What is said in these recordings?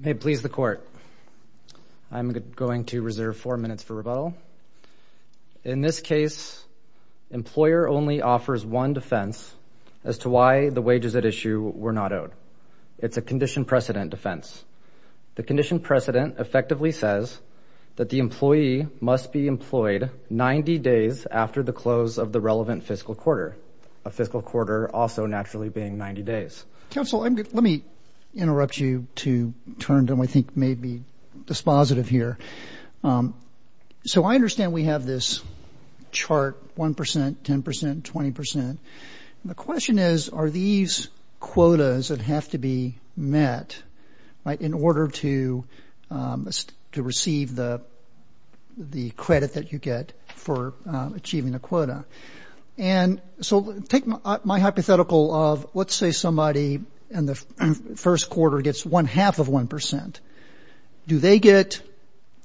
May it please the Court, I'm going to reserve four minutes for rebuttal. In this case, employer only offers one defense as to why the wages at issue were not owed. It's a condition precedent defense. The condition precedent effectively says that the employee must be employed 90 days after the close of the relevant fiscal quarter, a fiscal quarter also naturally being 90 days. Counsel, let me interrupt you to turn to what I think may be dispositive here. So I understand we have this chart 1%, 10%, 20%. The question is, are these quotas that have to be met, right, in order to receive the credit that you get for achieving a quota? And so take my hypothetical of, let's say somebody in the first quarter gets one half of 1%. Do they get,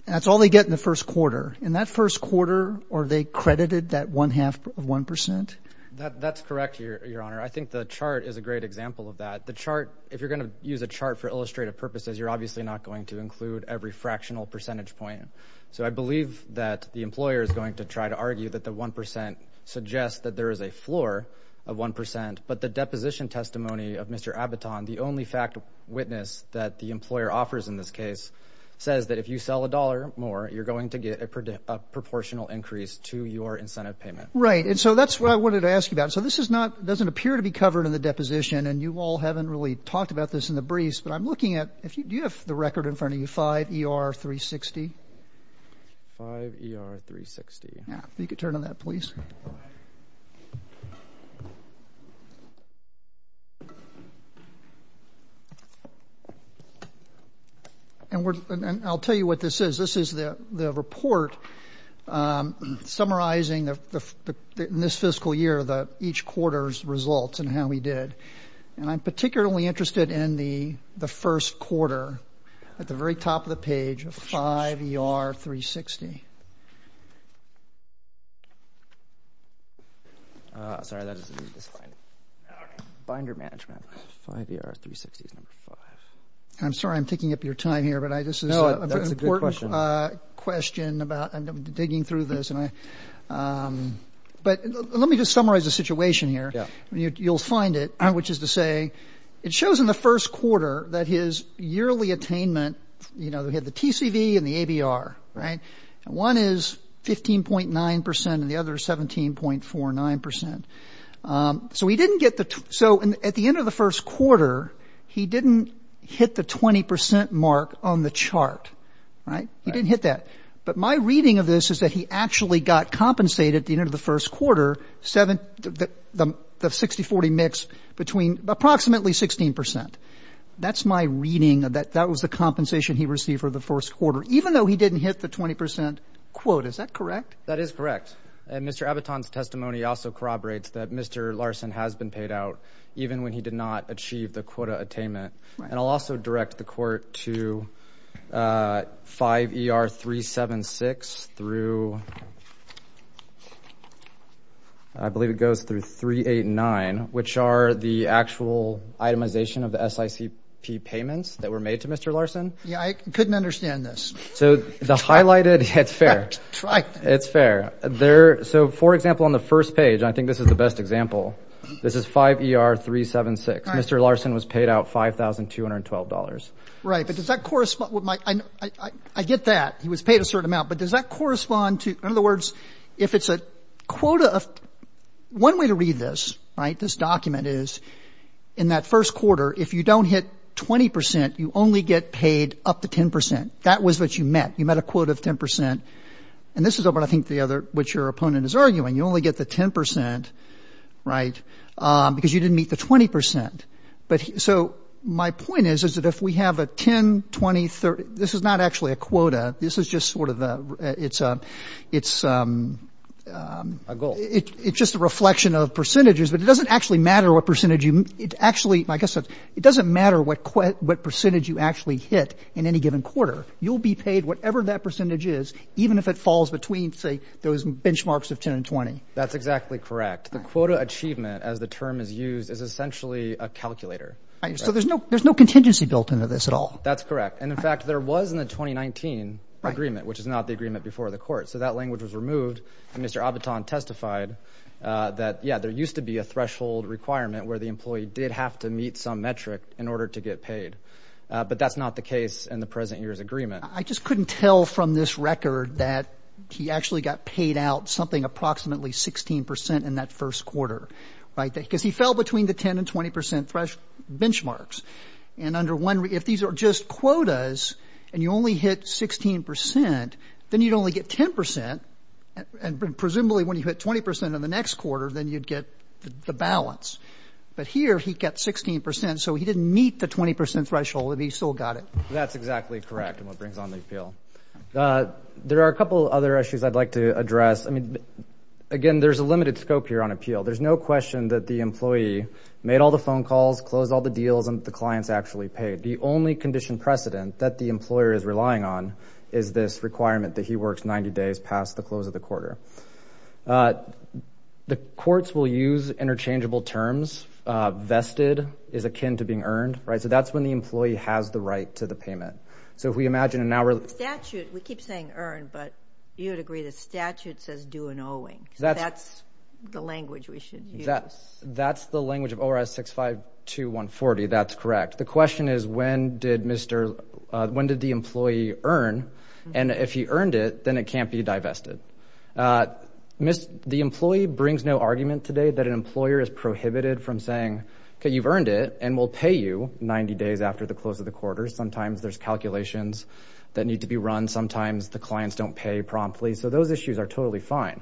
that's all they get in the first quarter. In that first quarter, are they credited that one half of 1%? That's correct, Your Honor. I think the chart is a great example of that. The chart, if you're going to use a chart for illustrative purposes, you're obviously not going to get a percentage point. So I believe that the employer is going to try to argue that the 1% suggests that there is a floor of 1%, but the deposition testimony of Mr. Abboton, the only fact witness that the employer offers in this case, says that if you sell $1 more, you're going to get a proportional increase to your incentive payment. Right. And so that's what I wanted to ask you about. So this is not, doesn't appear to be covered in the deposition, and you all haven't really talked about this in the briefs, but I'm looking at, do you have the record in front of you, 5 ER 360? 5 ER 360. Yeah, if you could turn on that, please. And I'll tell you what this is. This is the report summarizing the, in this fiscal year, the each quarter's results and how we did. And I'm particularly interested in the first quarter at the very top of the page of 5 ER 360. Sorry, that doesn't need this slide. Binder management, 5 ER 360 is number 5. I'm sorry, I'm taking up your time here, but this is an important question about, I'm digging through this and I, but let me just summarize the situation here. You'll find it, which is to say it shows in the first quarter that his yearly attainment, you know, we had the TCV and the ABR, right? And one is 15.9% and the other 17.49%. So he didn't get the, so at the end of the first quarter, he didn't hit the 20% mark on the chart, right? He didn't hit that. But my reading of this is that he actually got compensated at the end of the first quarter, seven, the 60 40 mix between approximately 16%. That's my reading of that. That was the compensation he received for the first quarter, even though he didn't hit the 20% quote. Is that correct? That is correct. And Mr. Aviton's testimony also corroborates that Mr. Larson has been paid out even when he did not achieve the I believe it goes through three, eight, nine, which are the actual itemization of the SICP payments that were made to Mr. Larson. Yeah, I couldn't understand this. So the highlighted, it's fair. It's fair there. So for example, on the first page, I think this is the best example. This is five er 376. Mr. Larson was paid out $5,212. Right. But does that correspond with my I get that he was paid a certain amount, but does that correspond to in other words, if it's a quota of one way to read this, right? This document is in that first quarter. If you don't hit 20%, you only get paid up to 10%. That was what you met. You met a quote of 10%. And this is what I think the other which your opponent is arguing. You only get the 10%, right? Because you didn't meet the 20%. But so my point is, is that if we have a 10, 20, 30, this is not actually a quota. This is just sort of the it's a it's a goal. It's just a reflection of percentages, but it doesn't actually matter what percentage you actually, like I said, it doesn't matter what what percentage you actually hit in any given quarter, you'll be paid whatever that percentage is, even if it falls between, say, those benchmarks of 10 and 20. That's exactly correct. The quota achievement as the term is used is essentially a calculator. So there's no there's no contingency built into this at all. That's correct. And in fact, there was in the 2019 agreement, which is not the agreement before the court. So that language was removed. And Mr. Abbott on testified that, yeah, there used to be a threshold requirement where the employee did have to meet some metric in order to get paid. But that's not the case in the present year's agreement. I just couldn't tell from this record that he actually got paid out something approximately 16 percent in that first quarter. Right. Because he fell between the 10 and 20 percent fresh benchmarks. And under one, if these are just quotas and you only hit 16 percent, then you'd only get 10 percent. And presumably, when you hit 20 percent in the next quarter, then you'd get the balance. But here he got 16 percent. So he didn't meet the 20 percent threshold. He still got it. That's exactly correct. And what brings on the appeal? There are a couple other issues I'd like to address. I mean, again, there's a limited scope here on appeal. There's no question that the employee made all the phone calls, closed all the deals and the clients actually paid. The only condition precedent that the employer is relying on is this requirement that he works 90 days past the close of the quarter. The courts will use interchangeable terms. Vested is akin to being earned. Right. So that's when the employee has the right to the payment. So if we imagine an hour statute, we keep saying earn, but you'd agree the statute says do an owing. That's the language we should use. That's the language of ORS 652140. That's correct. The question is, when did Mr. When did the employee earn? And if he earned it, then it can't be divested. The employee brings no argument today that an employer is prohibited from saying, OK, you've earned it and we'll pay you 90 days after the close of the quarter. Sometimes there's calculations that need to be run. Sometimes the clients don't pay promptly. So those issues are totally fine.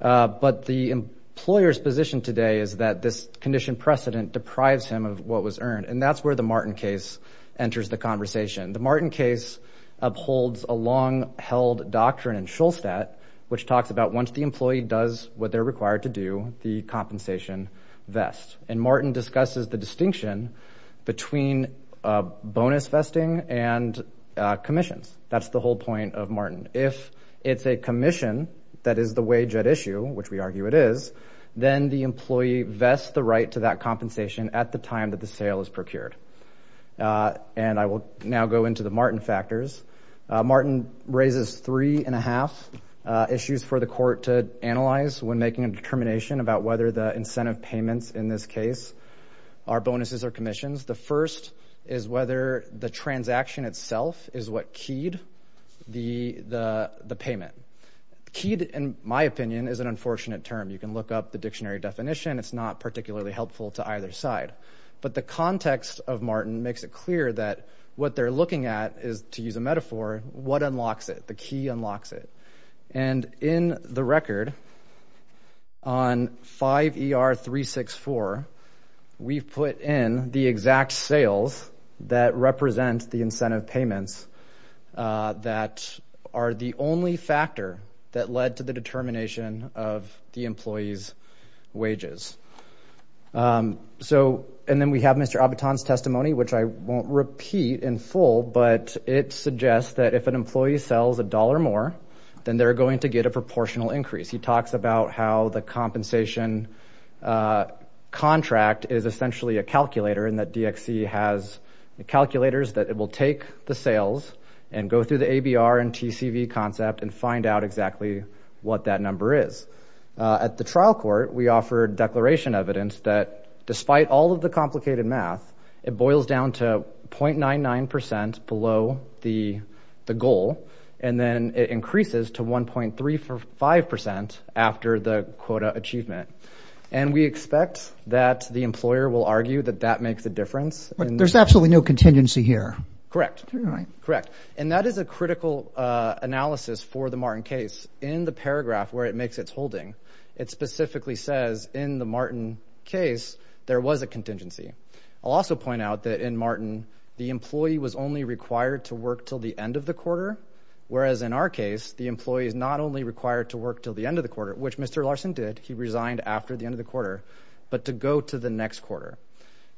But the employer's position today is that this condition precedent deprives him of what was earned. And that's where the Martin case enters the conversation. The Martin case upholds a long held doctrine in Shulstead, which talks about once the employee does what they're required to do, the compensation vests and Martin discusses the distinction between bonus vesting and commissions. That's the whole point of Martin. If it's a commission, that is the wage at issue, which we argue it is, then the employee vests the right to that compensation at the time that the sale is procured. And I will now go into the Martin factors. Martin raises three and a half issues for the court to analyze when making a determination about whether the incentive payments in this case are bonuses or commissions. The first is whether the transaction itself is what keyed the payment. Keyed, in my opinion, is an unfortunate term. You can look up the dictionary definition. It's not particularly helpful to either side. But the context of Martin makes it clear that what they're looking at is, to use a metaphor, what unlocks it, the key unlocks it. And in the record, on 5 ER 364, we've put in the exact sales that represent the incentive payments that are the only factor that led to the determination of the employee's wages. So, and then we have Mr. Abiton's testimony, which I won't repeat in full, but it suggests that if an employee sells a dollar more, then they're going to get a proportional increase. He talks about how the compensation contract is essentially a calculator and that DXC has the calculators that it will take the sales and go through the ABR and TCV concept and find out exactly what that number is. At the trial court, we offered declaration evidence that despite all of the complicated math, it boils down to 0.99% below the goal. And then it increases to 1.35% after the quota achievement. And we expect that the employer will argue that that makes a difference. There's absolutely no contingency here. Correct. All right. Correct. And that is a critical analysis for the Martin case. In the paragraph where it makes its holding, it specifically says in the Martin case, there was a contingency. I'll also point out that in Martin, the employee was only required to work till the end of the quarter, whereas in our case, the employee is not only required to work till the end of the quarter, which Mr. Larson did, he resigned after the end of the quarter, but to go to the next quarter.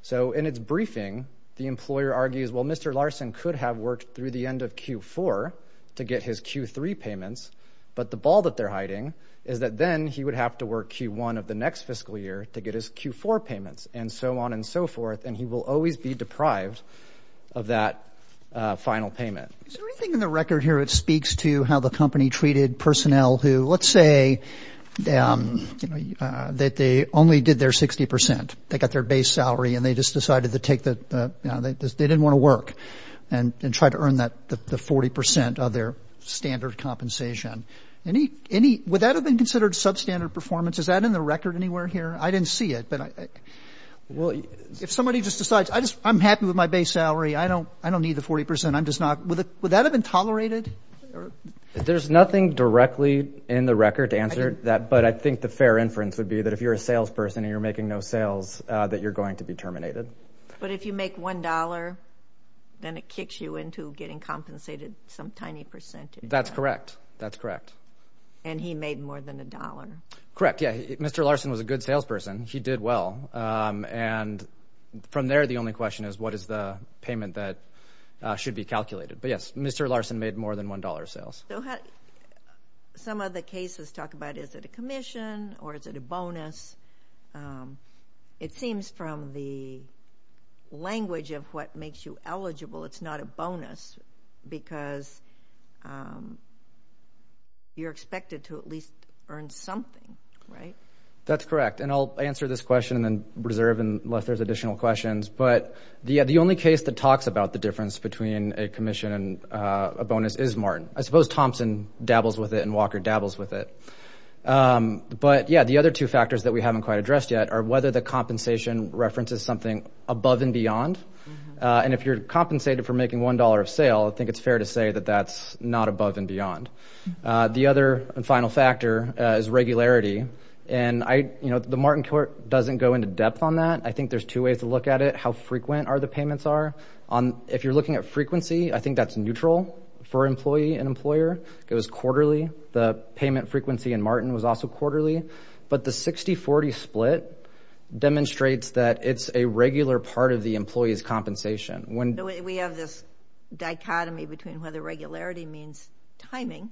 So in its briefing, the employer argues, well, Mr. Larson could have worked through the end of Q4 to get his Q3 payments, but the ball that they're hiding is that then he would have to work Q1 of the next fiscal year to get his Q4 payments and so on and so forth, and he will always be deprived of that final payment. Is there anything in the record here that speaks to how the company treated personnel who, let's say, you know, that they only did their 60 percent, they got their base salary, and they just decided to take the, you know, they didn't want to work and try to earn the 40 percent of their standard compensation. Would that have been considered substandard performance? Is that in the record anywhere here? I didn't see it. Well, if somebody just decides, I'm happy with my base salary, I don't need the 40 percent, I'm just not, would that have been tolerated? There's nothing directly in the record to answer that, but I think the fair inference would be that if you're a salesperson and you're making no sales, that you're going to be terminated. But if you make one dollar, then it kicks you into getting compensated some tiny percentage. That's correct. That's correct. And he made more than a dollar. Correct, yeah. Mr. Larson was a good salesperson. He did well. And from there, the only question is what is the payment that should be calculated. But yes, Mr. Larson made more than one dollar of sales. Some of the cases talk about is it a commission or is it a bonus? It seems from the language of what makes you eligible, it's not a bonus because you're expected to at least earn something, right? That's correct, and I'll answer this question and then reserve unless there's additional questions. But the only case that talks about the difference between a commission and a bonus is Martin. I suppose Thompson dabbles with it and Walker dabbles with it. But, yeah, the other two factors that we haven't quite addressed yet are whether the compensation references something above and beyond. And if you're compensated for making one dollar of sale, I think it's fair to say that that's not above and beyond. The other final factor is regularity. And, you know, the Martin Court doesn't go into depth on that. I think there's two ways to look at it, how frequent are the payments are. If you're looking at frequency, I think that's neutral for employee and employer. It was quarterly. The payment frequency in Martin was also quarterly. But the 60-40 split demonstrates that it's a regular part of the employee's compensation. We have this dichotomy between whether regularity means timing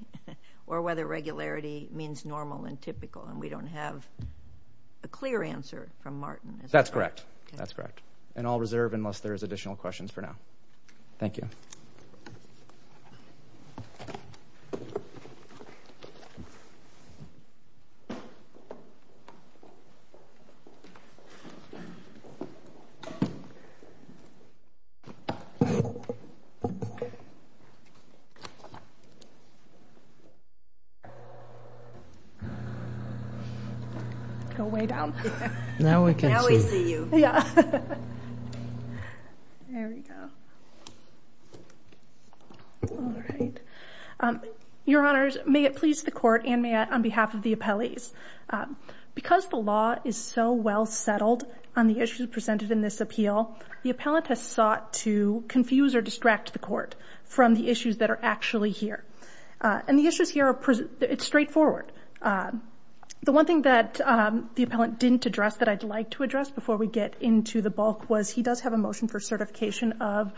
or whether regularity means normal and typical, and we don't have a clear answer from Martin. That's correct. And I'll reserve unless there's additional questions for now. Thank you. Go way down. Now we can see. Yeah. There we go. All right. Your Honors, may it please the Court and may I, on behalf of the appellees, because the law is so well settled on the issues presented in this appeal, the appellant has sought to confuse or distract the Court from the issues that are actually here. And the issues here are straightforward. The one thing that the appellant didn't address that I'd like to address before we get into the bulk was he does have a motion for certification of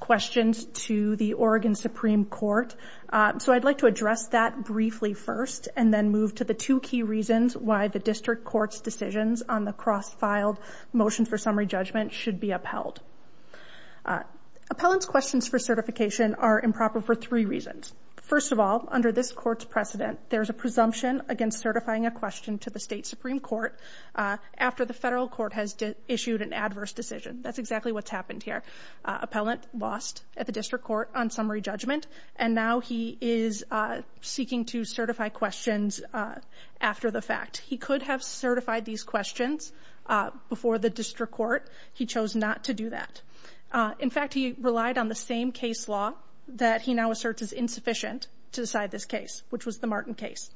questions to the Oregon Supreme Court. So I'd like to address that briefly first and then move to the two key reasons why the district court's decisions on the cross-filed motion for summary judgment should be upheld. Appellant's questions for certification are improper for three reasons. First of all, under this court's precedent, there's a presumption against certifying a question to the state Supreme Court after the federal court has issued an adverse decision. That's exactly what's happened here. Appellant lost at the district court on summary judgment, and now he is seeking to certify questions after the fact. He could have certified these questions before the district court. He chose not to do that. In fact, he relied on the same case law that he now asserts is insufficient to decide this case, which was the Martin case.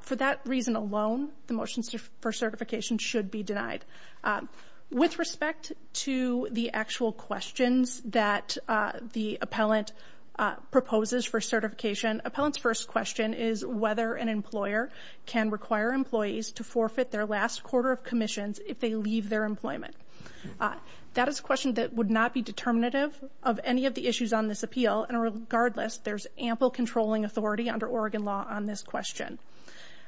For that reason alone, the motion for certification should be denied. With respect to the actual questions that the appellant proposes for certification, appellant's first question is whether an employer can require employees to forfeit their last quarter of commissions if they leave their employment. That is a question that would not be determinative of any of the issues on this appeal, and regardless, there's ample controlling authority under Oregon law on this question.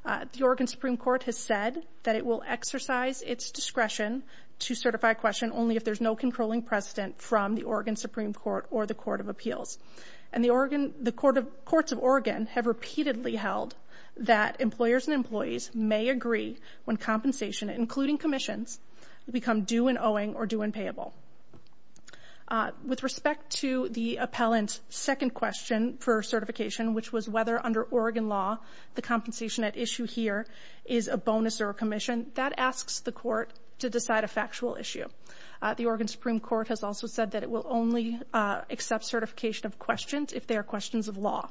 The Oregon Supreme Court has said that it will exercise its discretion to certify a question only if there's no controlling precedent from the Oregon Supreme Court or the Court of Appeals. And the courts of Oregon have repeatedly held that employers and employees may agree when compensation, including commissions, become due and owing or due and payable. With respect to the appellant's second question for certification, which was whether under Oregon law the compensation at issue here is a bonus or a commission, that asks the court to decide a factual issue. The Oregon Supreme Court has also said that it will only accept certification of questions if they are questions of law,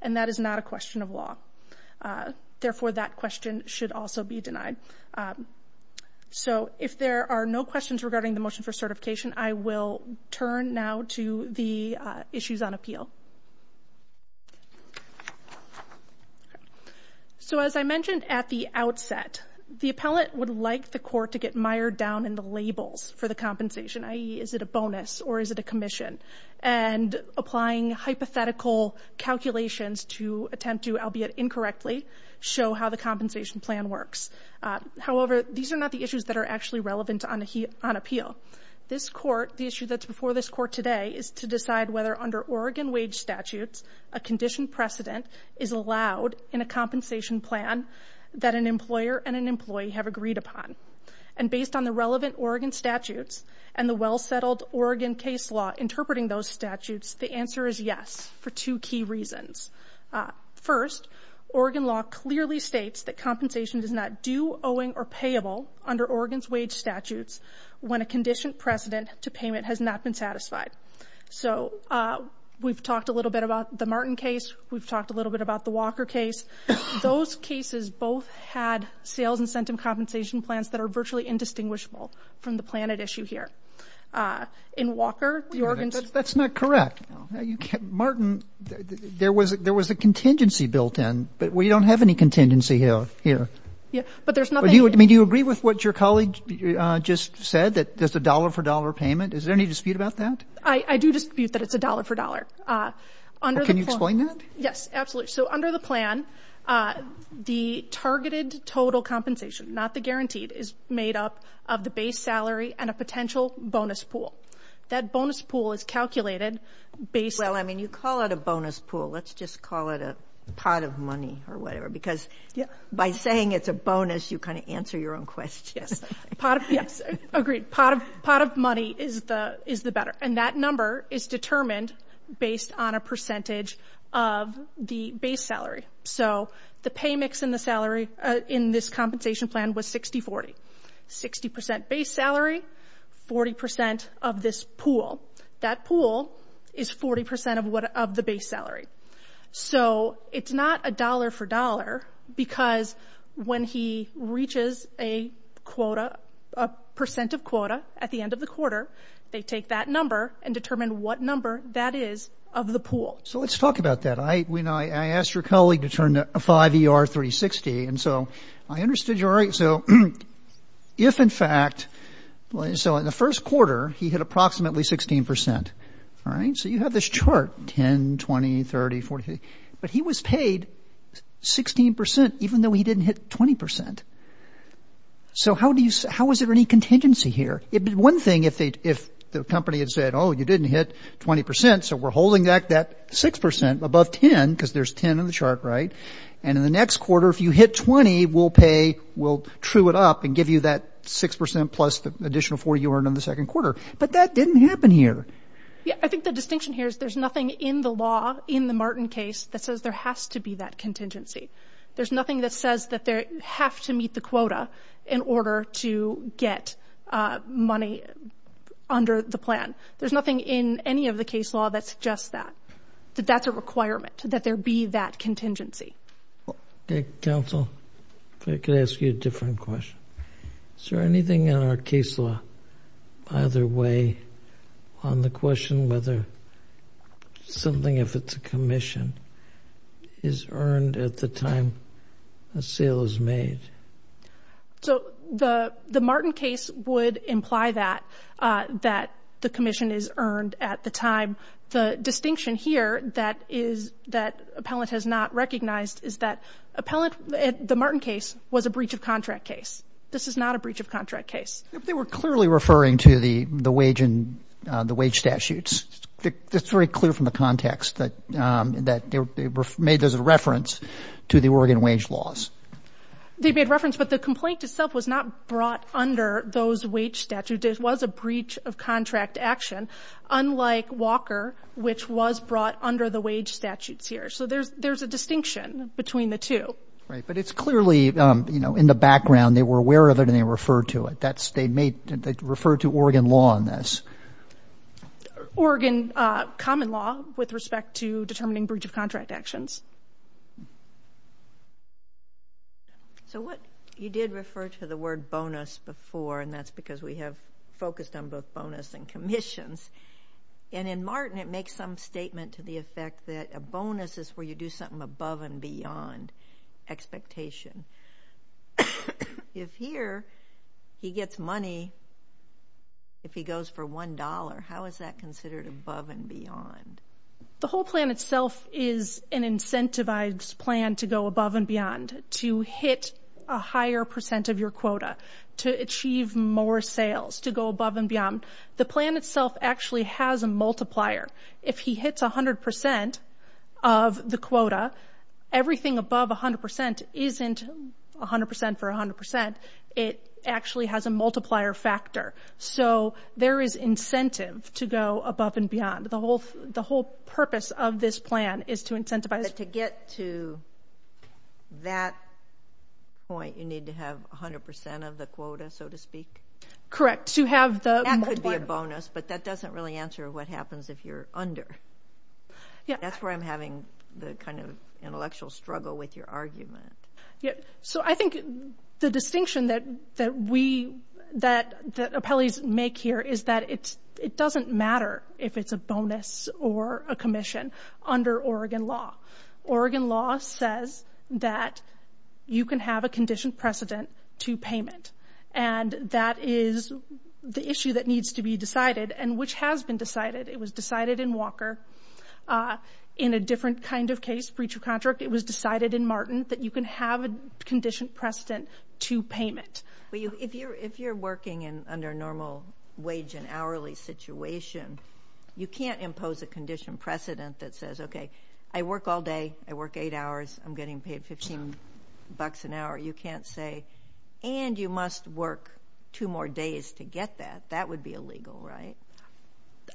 and that is not a question of law. Therefore, that question should also be denied. So if there are no questions regarding the motion for certification, I will turn now to the issues on appeal. So as I mentioned at the outset, the appellant would like the court to get mired down in the labels for the compensation, i.e., is it a bonus or is it a commission, and applying hypothetical calculations to attempt to, albeit incorrectly, show how the compensation plan works. However, these are not the issues that are actually relevant on appeal. This court, the issue that's before this court today, is to decide whether under Oregon wage statutes a conditioned precedent is allowed in a compensation plan that an employer and an employee have agreed upon. And based on the relevant Oregon statutes and the well-settled Oregon case law interpreting those statutes, the answer is yes for two key reasons. First, Oregon law clearly states that compensation is not due, owing, or payable under Oregon's wage statutes when a conditioned precedent to payment has not been satisfied. So we've talked a little bit about the Martin case. We've talked a little bit about the Walker case. Those cases both had sales incentive compensation plans that are virtually indistinguishable from the plan at issue here. In Walker, Oregon's- That's not correct. Martin, there was a contingency built in, but we don't have any contingency here. Yeah, but there's nothing- I mean, do you agree with what your colleague just said, that there's a dollar-for-dollar payment? Is there any dispute about that? I do dispute that it's a dollar-for-dollar. Can you explain that? Yes, absolutely. So under the plan, the targeted total compensation, not the guaranteed, is made up of the base salary and a potential bonus pool. That bonus pool is calculated based- Well, I mean, you call it a bonus pool. Let's just call it a pot of money or whatever because by saying it's a bonus, you kind of answer your own question. Yes, agreed. Pot of money is the better, and that number is determined based on a percentage of the base salary. So the pay mix in this compensation plan was 60-40, 60% base salary, 40% of this pool. That pool is 40% of the base salary. So it's not a dollar-for-dollar because when he reaches a percent of quota at the end of the quarter, they take that number and determine what number that is of the pool. So let's talk about that. I asked your colleague to turn to 5ER360, and so I understood you're right. So if, in fact, so in the first quarter, he hit approximately 16%, all right? So you have this chart, 10, 20, 30, 40, but he was paid 16% even though he didn't hit 20%. So how is there any contingency here? One thing, if the company had said, oh, you didn't hit 20%, so we're holding back that 6% above 10 because there's 10 in the chart, right? And in the next quarter, if you hit 20, we'll pay, we'll true it up and give you that 6% plus the additional 40 you earned in the second quarter. But that didn't happen here. Yeah, I think the distinction here is there's nothing in the law, in the Martin case, that says there has to be that contingency. There's nothing that says that they have to meet the quota in order to get money under the plan. There's nothing in any of the case law that suggests that, that that's a requirement, that there be that contingency. Okay, counsel, if I could ask you a different question. Is there anything in our case law either way on the question whether something, if it's a commission, is earned at the time a sale is made? So the Martin case would imply that, that the commission is earned at the time. The distinction here that is, that appellant has not recognized is that appellant, the Martin case was a breach of contract case. This is not a breach of contract case. They were clearly referring to the wage and the wage statutes. It's very clear from the context that they made those a reference to the Oregon wage laws. They made reference, but the complaint itself was not brought under those wage statutes. It was a breach of contract action, unlike Walker, which was brought under the wage statutes here. So there's a distinction between the two. Right, but it's clearly, you know, in the background, they were aware of it and they referred to it. They referred to Oregon law on this. Oregon common law with respect to determining breach of contract actions. So what you did refer to the word bonus before, and that's because we have focused on both bonus and commissions, and in Martin it makes some statement to the effect that a bonus is where you do something above and beyond expectation. If here he gets money, if he goes for $1, how is that considered above and beyond? The whole plan itself is an incentivized plan to go above and beyond, to hit a higher percent of your quota, to achieve more sales, to go above and beyond. The plan itself actually has a multiplier. If he hits 100% of the quota, everything above 100% isn't 100% for 100%. It actually has a multiplier factor. So there is incentive to go above and beyond. The whole purpose of this plan is to incentivize. But to get to that point, you need to have 100% of the quota, so to speak? Correct, to have the multiplier. It's a bonus, but that doesn't really answer what happens if you're under. That's where I'm having the kind of intellectual struggle with your argument. So I think the distinction that appellees make here is that it doesn't matter if it's a bonus or a commission under Oregon law. Oregon law says that you can have a conditioned precedent to payment, and that is the issue that needs to be decided, and which has been decided. It was decided in Walker. In a different kind of case, breach of contract, it was decided in Martin that you can have a conditioned precedent to payment. If you're working under a normal wage and hourly situation, you can't impose a conditioned precedent that says, okay, I work all day, I work eight hours, I'm getting paid $15 an hour. You can't say, and you must work two more days to get that. That would be illegal, right?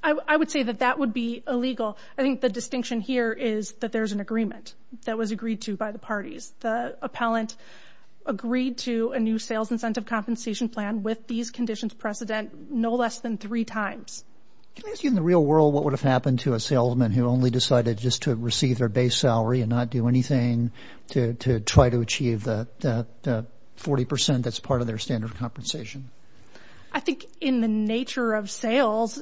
I would say that that would be illegal. I think the distinction here is that there's an agreement that was agreed to by the parties. The appellant agreed to a new sales incentive compensation plan with these conditions precedent no less than three times. Can I ask you in the real world what would have happened to a salesman who only decided just to receive their base salary and not do anything to try to achieve that 40% that's part of their standard of compensation? I think in the nature of sales,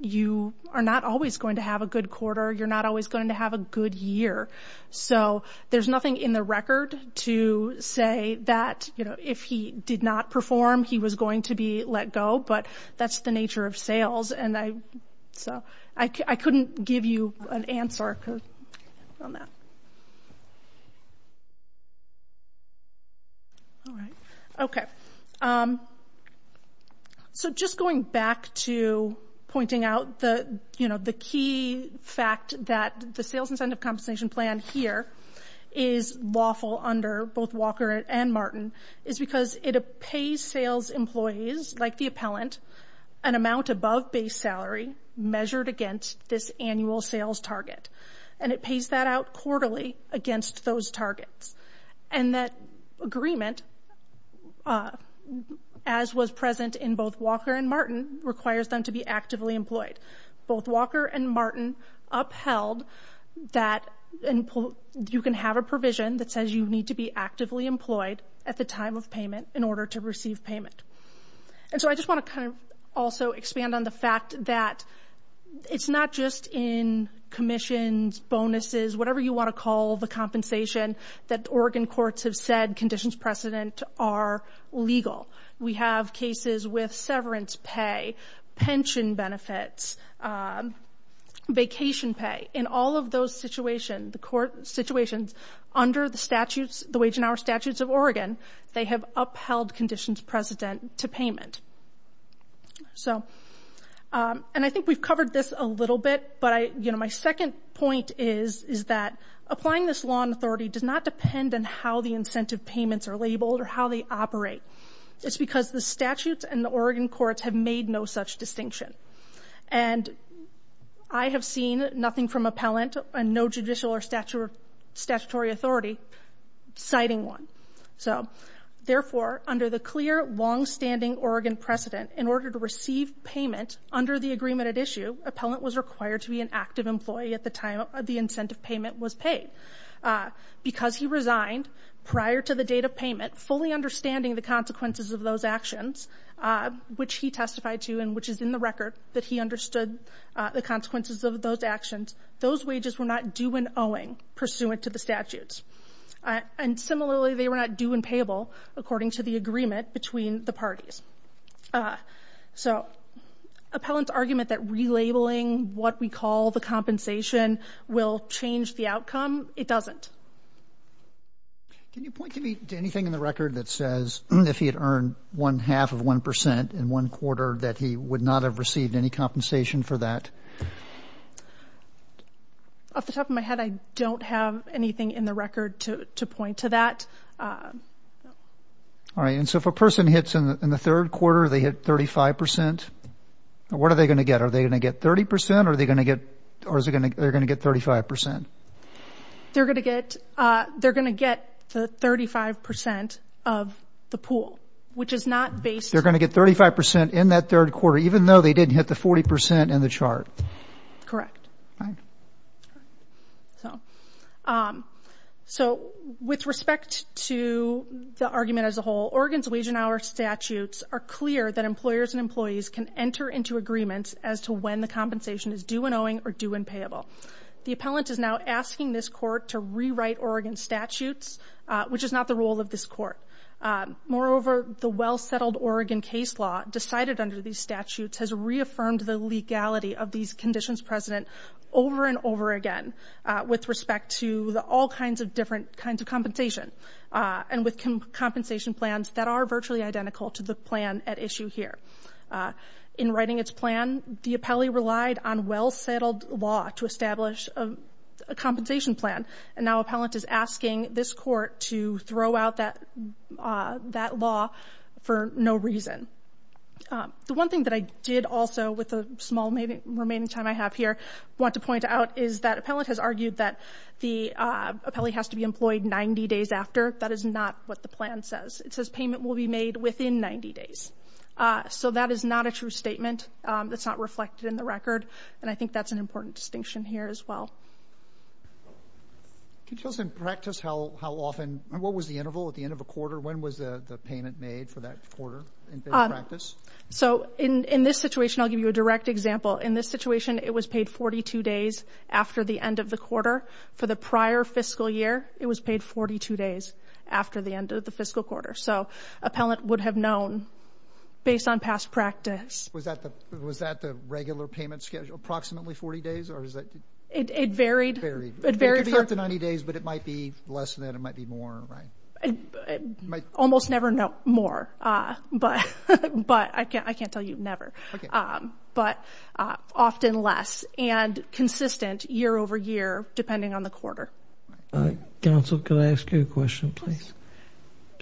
you are not always going to have a good quarter. You're not always going to have a good year. So there's nothing in the record to say that if he did not perform, he was going to be let go, but that's the nature of sales. I couldn't give you an answer on that. Just going back to pointing out the key fact that the sales incentive compensation plan here is lawful under both Walker and Martin is because it pays sales employees, like the appellant, an amount above base salary measured against this annual sales target. And it pays that out quarterly against those targets. And that agreement, as was present in both Walker and Martin, requires them to be actively employed. Both Walker and Martin upheld that you can have a provision in order to receive payment. And so I just want to kind of also expand on the fact that it's not just in commissions, bonuses, whatever you want to call the compensation that Oregon courts have said conditions precedent are legal. We have cases with severance pay, pension benefits, vacation pay. In all of those situations, under the statutes, the Wage and Hour Statutes of Oregon, they have upheld conditions precedent to payment. And I think we've covered this a little bit, but my second point is that applying this law and authority does not depend on how the incentive payments are labeled or how they operate. It's because the statutes and the Oregon courts have made no such distinction. And I have seen nothing from appellant and no judicial or statutory authority citing one. So, therefore, under the clear, longstanding Oregon precedent, in order to receive payment under the agreement at issue, appellant was required to be an active employee at the time the incentive payment was paid. Because he resigned prior to the date of payment, fully understanding the consequences of those actions, which he testified to and which is in the record, that he understood the consequences of those actions, those wages were not due and owing pursuant to the statutes. And similarly, they were not due and payable according to the agreement between the parties. So appellant's argument that relabeling what we call the compensation will change the outcome, it doesn't. Can you point to anything in the record that says if he had earned one-half of 1% in one quarter that he would not have received any compensation for that? Off the top of my head, I don't have anything in the record to point to that. All right. And so if a person hits in the third quarter, they hit 35%, what are they going to get? Are they going to get 30% or are they going to get 35%? They're going to get the 35% of the pool, which is not based. They're going to get 35% in that third quarter even though they didn't hit the 40% in the chart. Correct. So with respect to the argument as a whole, Oregon's wage and hour statutes are clear that employers and employees can enter into agreements as to when the compensation is due and owing or due and payable. The appellant is now asking this court to rewrite Oregon's statutes, which is not the role of this court. Moreover, the well-settled Oregon case law decided under these statutes has reaffirmed the legality of these conditions, President, over and over again with respect to all kinds of different kinds of compensation and with compensation plans that are virtually identical to the plan at issue here. In writing its plan, the appellee relied on well-settled law to establish a compensation plan, and now appellant is asking this court to throw out that law for no reason. The one thing that I did also with the small remaining time I have here want to point out is that appellant has argued that the appellee has to be employed 90 days after. That is not what the plan says. It says payment will be made within 90 days. So that is not a true statement. It's not reflected in the record, and I think that's an important distinction here as well. Can you tell us in practice how often, what was the interval at the end of a quarter? When was the payment made for that quarter in practice? So in this situation, I'll give you a direct example. In this situation, it was paid 42 days after the end of the quarter. For the prior fiscal year, it was paid 42 days after the end of the fiscal quarter. So appellant would have known, based on past practice. Was that the regular payment schedule, approximately 40 days? It varied. It could be up to 90 days, but it might be less than that. It might be more. Almost never more, but I can't tell you, never. But often less, and consistent year over year, depending on the quarter. Counsel, can I ask you a question, please?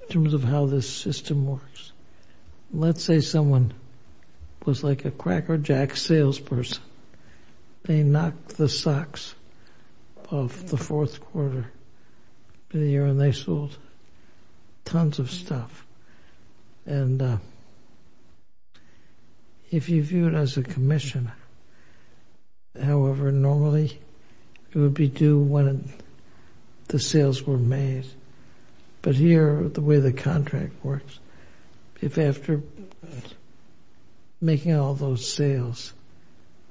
In terms of how this system works. Let's say someone was like a Cracker Jack salesperson. They knocked the socks off the fourth quarter of the year, and they sold tons of stuff. And if you view it as a commission, however, normally it would be due when the sales were made. But here, the way the contract works, if after making all those sales,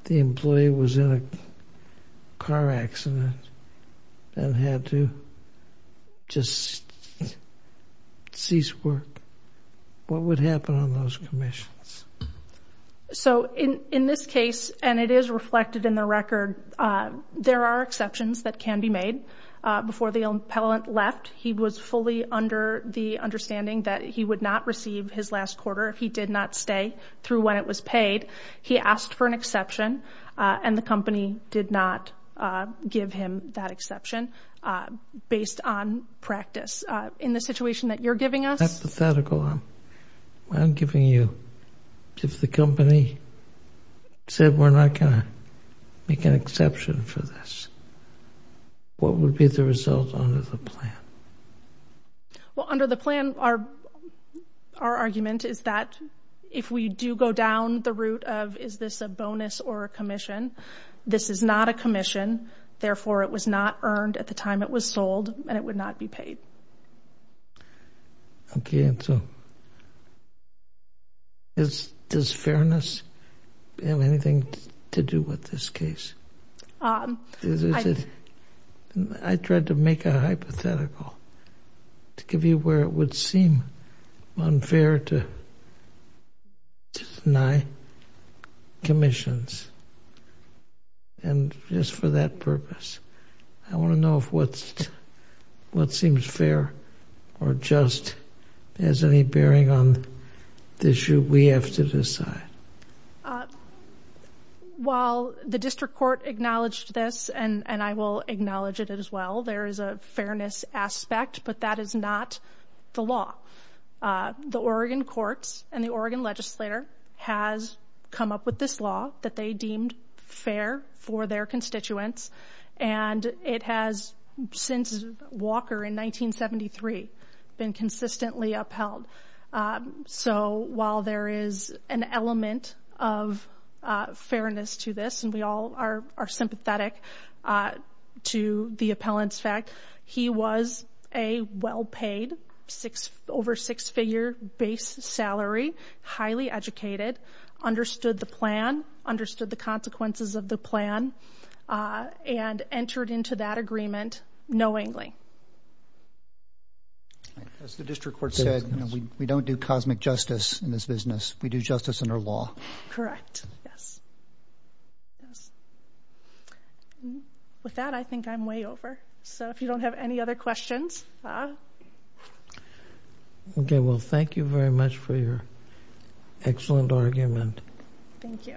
the employee was in a car accident and had to just cease work, what would happen on those commissions? So in this case, and it is reflected in the record, there are exceptions that can be made. Before the employee left, he was fully under the understanding that he would not receive his last quarter. He did not stay through when it was paid. He asked for an exception, and the company did not give him that exception based on practice. In the situation that you're giving us. That's hypothetical. I'm giving you, if the company said, we're not going to make an exception for this, what would be the result under the plan? Well, under the plan, our argument is that if we do go down the route of is this a bonus or a commission, this is not a commission. Therefore, it was not earned at the time it was sold, and it would not be paid. Okay, and so, does fairness have anything to do with this case? I tried to make a hypothetical to give you where it would seem unfair to deny commissions. And just for that purpose, I want to know if what seems fair or just has any bearing on the issue we have to decide. While the district court acknowledged this, and I will acknowledge it as well, there is a fairness aspect, but that is not the law. The Oregon courts and the Oregon legislator has come up with this law that they deemed fair for their constituents, and it has, since Walker in 1973, been consistently upheld. So while there is an element of fairness to this, and we all are sympathetic to the appellant's fact, he was a well-paid, over six-figure base salary, highly educated, understood the plan, understood the consequences of the plan, and entered into that agreement knowingly. As the district court said, we don't do cosmic justice in this business. We do justice under law. Correct, yes. With that, I think I'm way over. So if you don't have any other questions... Okay, well, thank you very much for your excellent argument. Thank you. Thank you.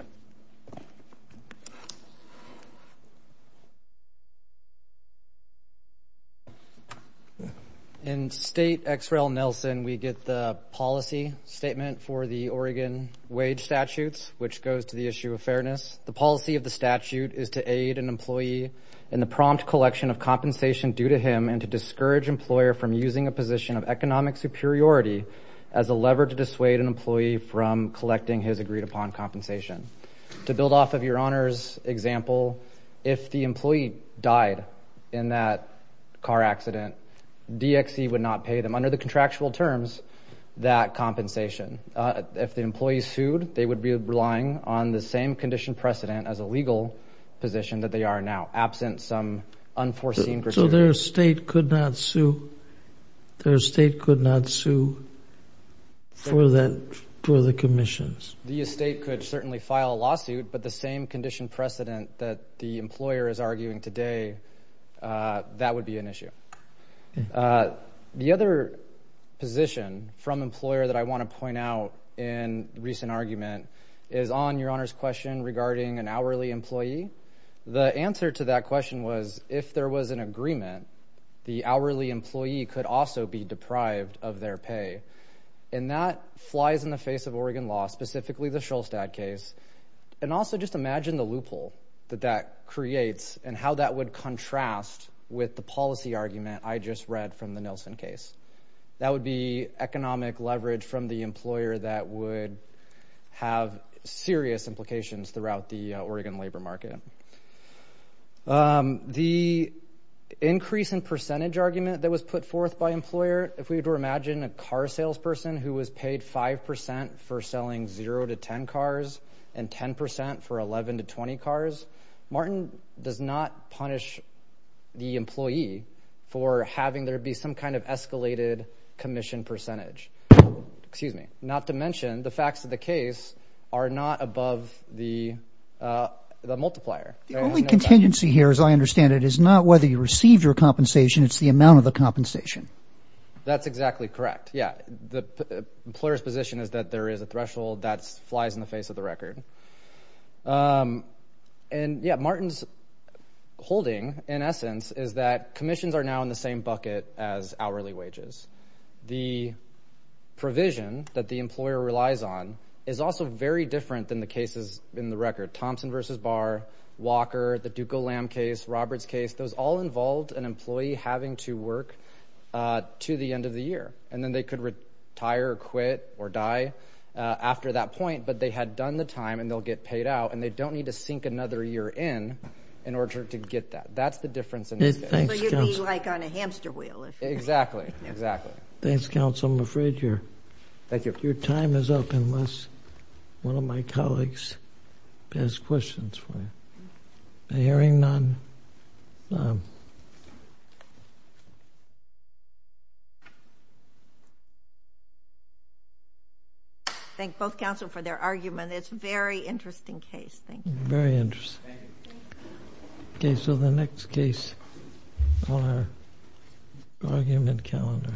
In State X. Rel. Nelson, we get the policy statement for the Oregon wage statutes, which goes to the issue of fairness. The policy of the statute is to aid an employee in the prompt collection of compensation due to him and to discourage an employer from using a position of economic superiority as a lever to dissuade an employee from collecting his agreed-upon compensation. To build off of Your Honor's example, if the employee died in that car accident, DXC would not pay them, under the contractual terms, that compensation. If the employee sued, they would be relying on the same condition precedent as a legal position that they are now, absent some unforeseen criteria. So their estate could not sue for the commissions? The estate could certainly file a lawsuit, but the same condition precedent that the employer is arguing today, that would be an issue. The other position from employer that I want to point out in recent argument is on Your Honor's question regarding an hourly employee. The answer to that question was, if there was an agreement, the hourly employee could also be deprived of their pay. And that flies in the face of Oregon law, specifically the Shulstad case. And also just imagine the loophole that that creates and how that would contrast with the policy argument I just read from the Nielsen case. That would be economic leverage from the employer that would have serious implications throughout the Oregon labor market. The increase in percentage argument that was put forth by employer, if we were to imagine a car salesperson who was paid 5% for selling 0 to 10 cars and 10% for 11 to 20 cars, Martin does not punish the employee for having there be some kind of escalated commission percentage. Not to mention the facts of the case are not above the multiplier. The only contingency here, as I understand it, is not whether you received your compensation, it's the amount of the compensation. That's exactly correct. Yeah, the employer's position is that there is a threshold that flies in the face of the record. And yeah, Martin's holding, in essence, is that commissions are now in the same bucket as hourly wages. The provision that the employer relies on is also very different than the cases in the record. Thompson v. Barr, Walker, the Duco Lamb case, Roberts case, those all involved an employee having to work to the end of the year. And then they could retire, quit, or die after that point, but they had done the time and they'll get paid out and they don't need to sink another year in in order to get that. That's the difference in this case. So you'd be like on a hamster wheel. Exactly, exactly. Thanks, counsel. I'm afraid your time is up unless one of my colleagues has questions for you. Hearing none. Thank both counsel for their argument. It's a very interesting case. Very interesting. Okay, so the next case on our argument calendar.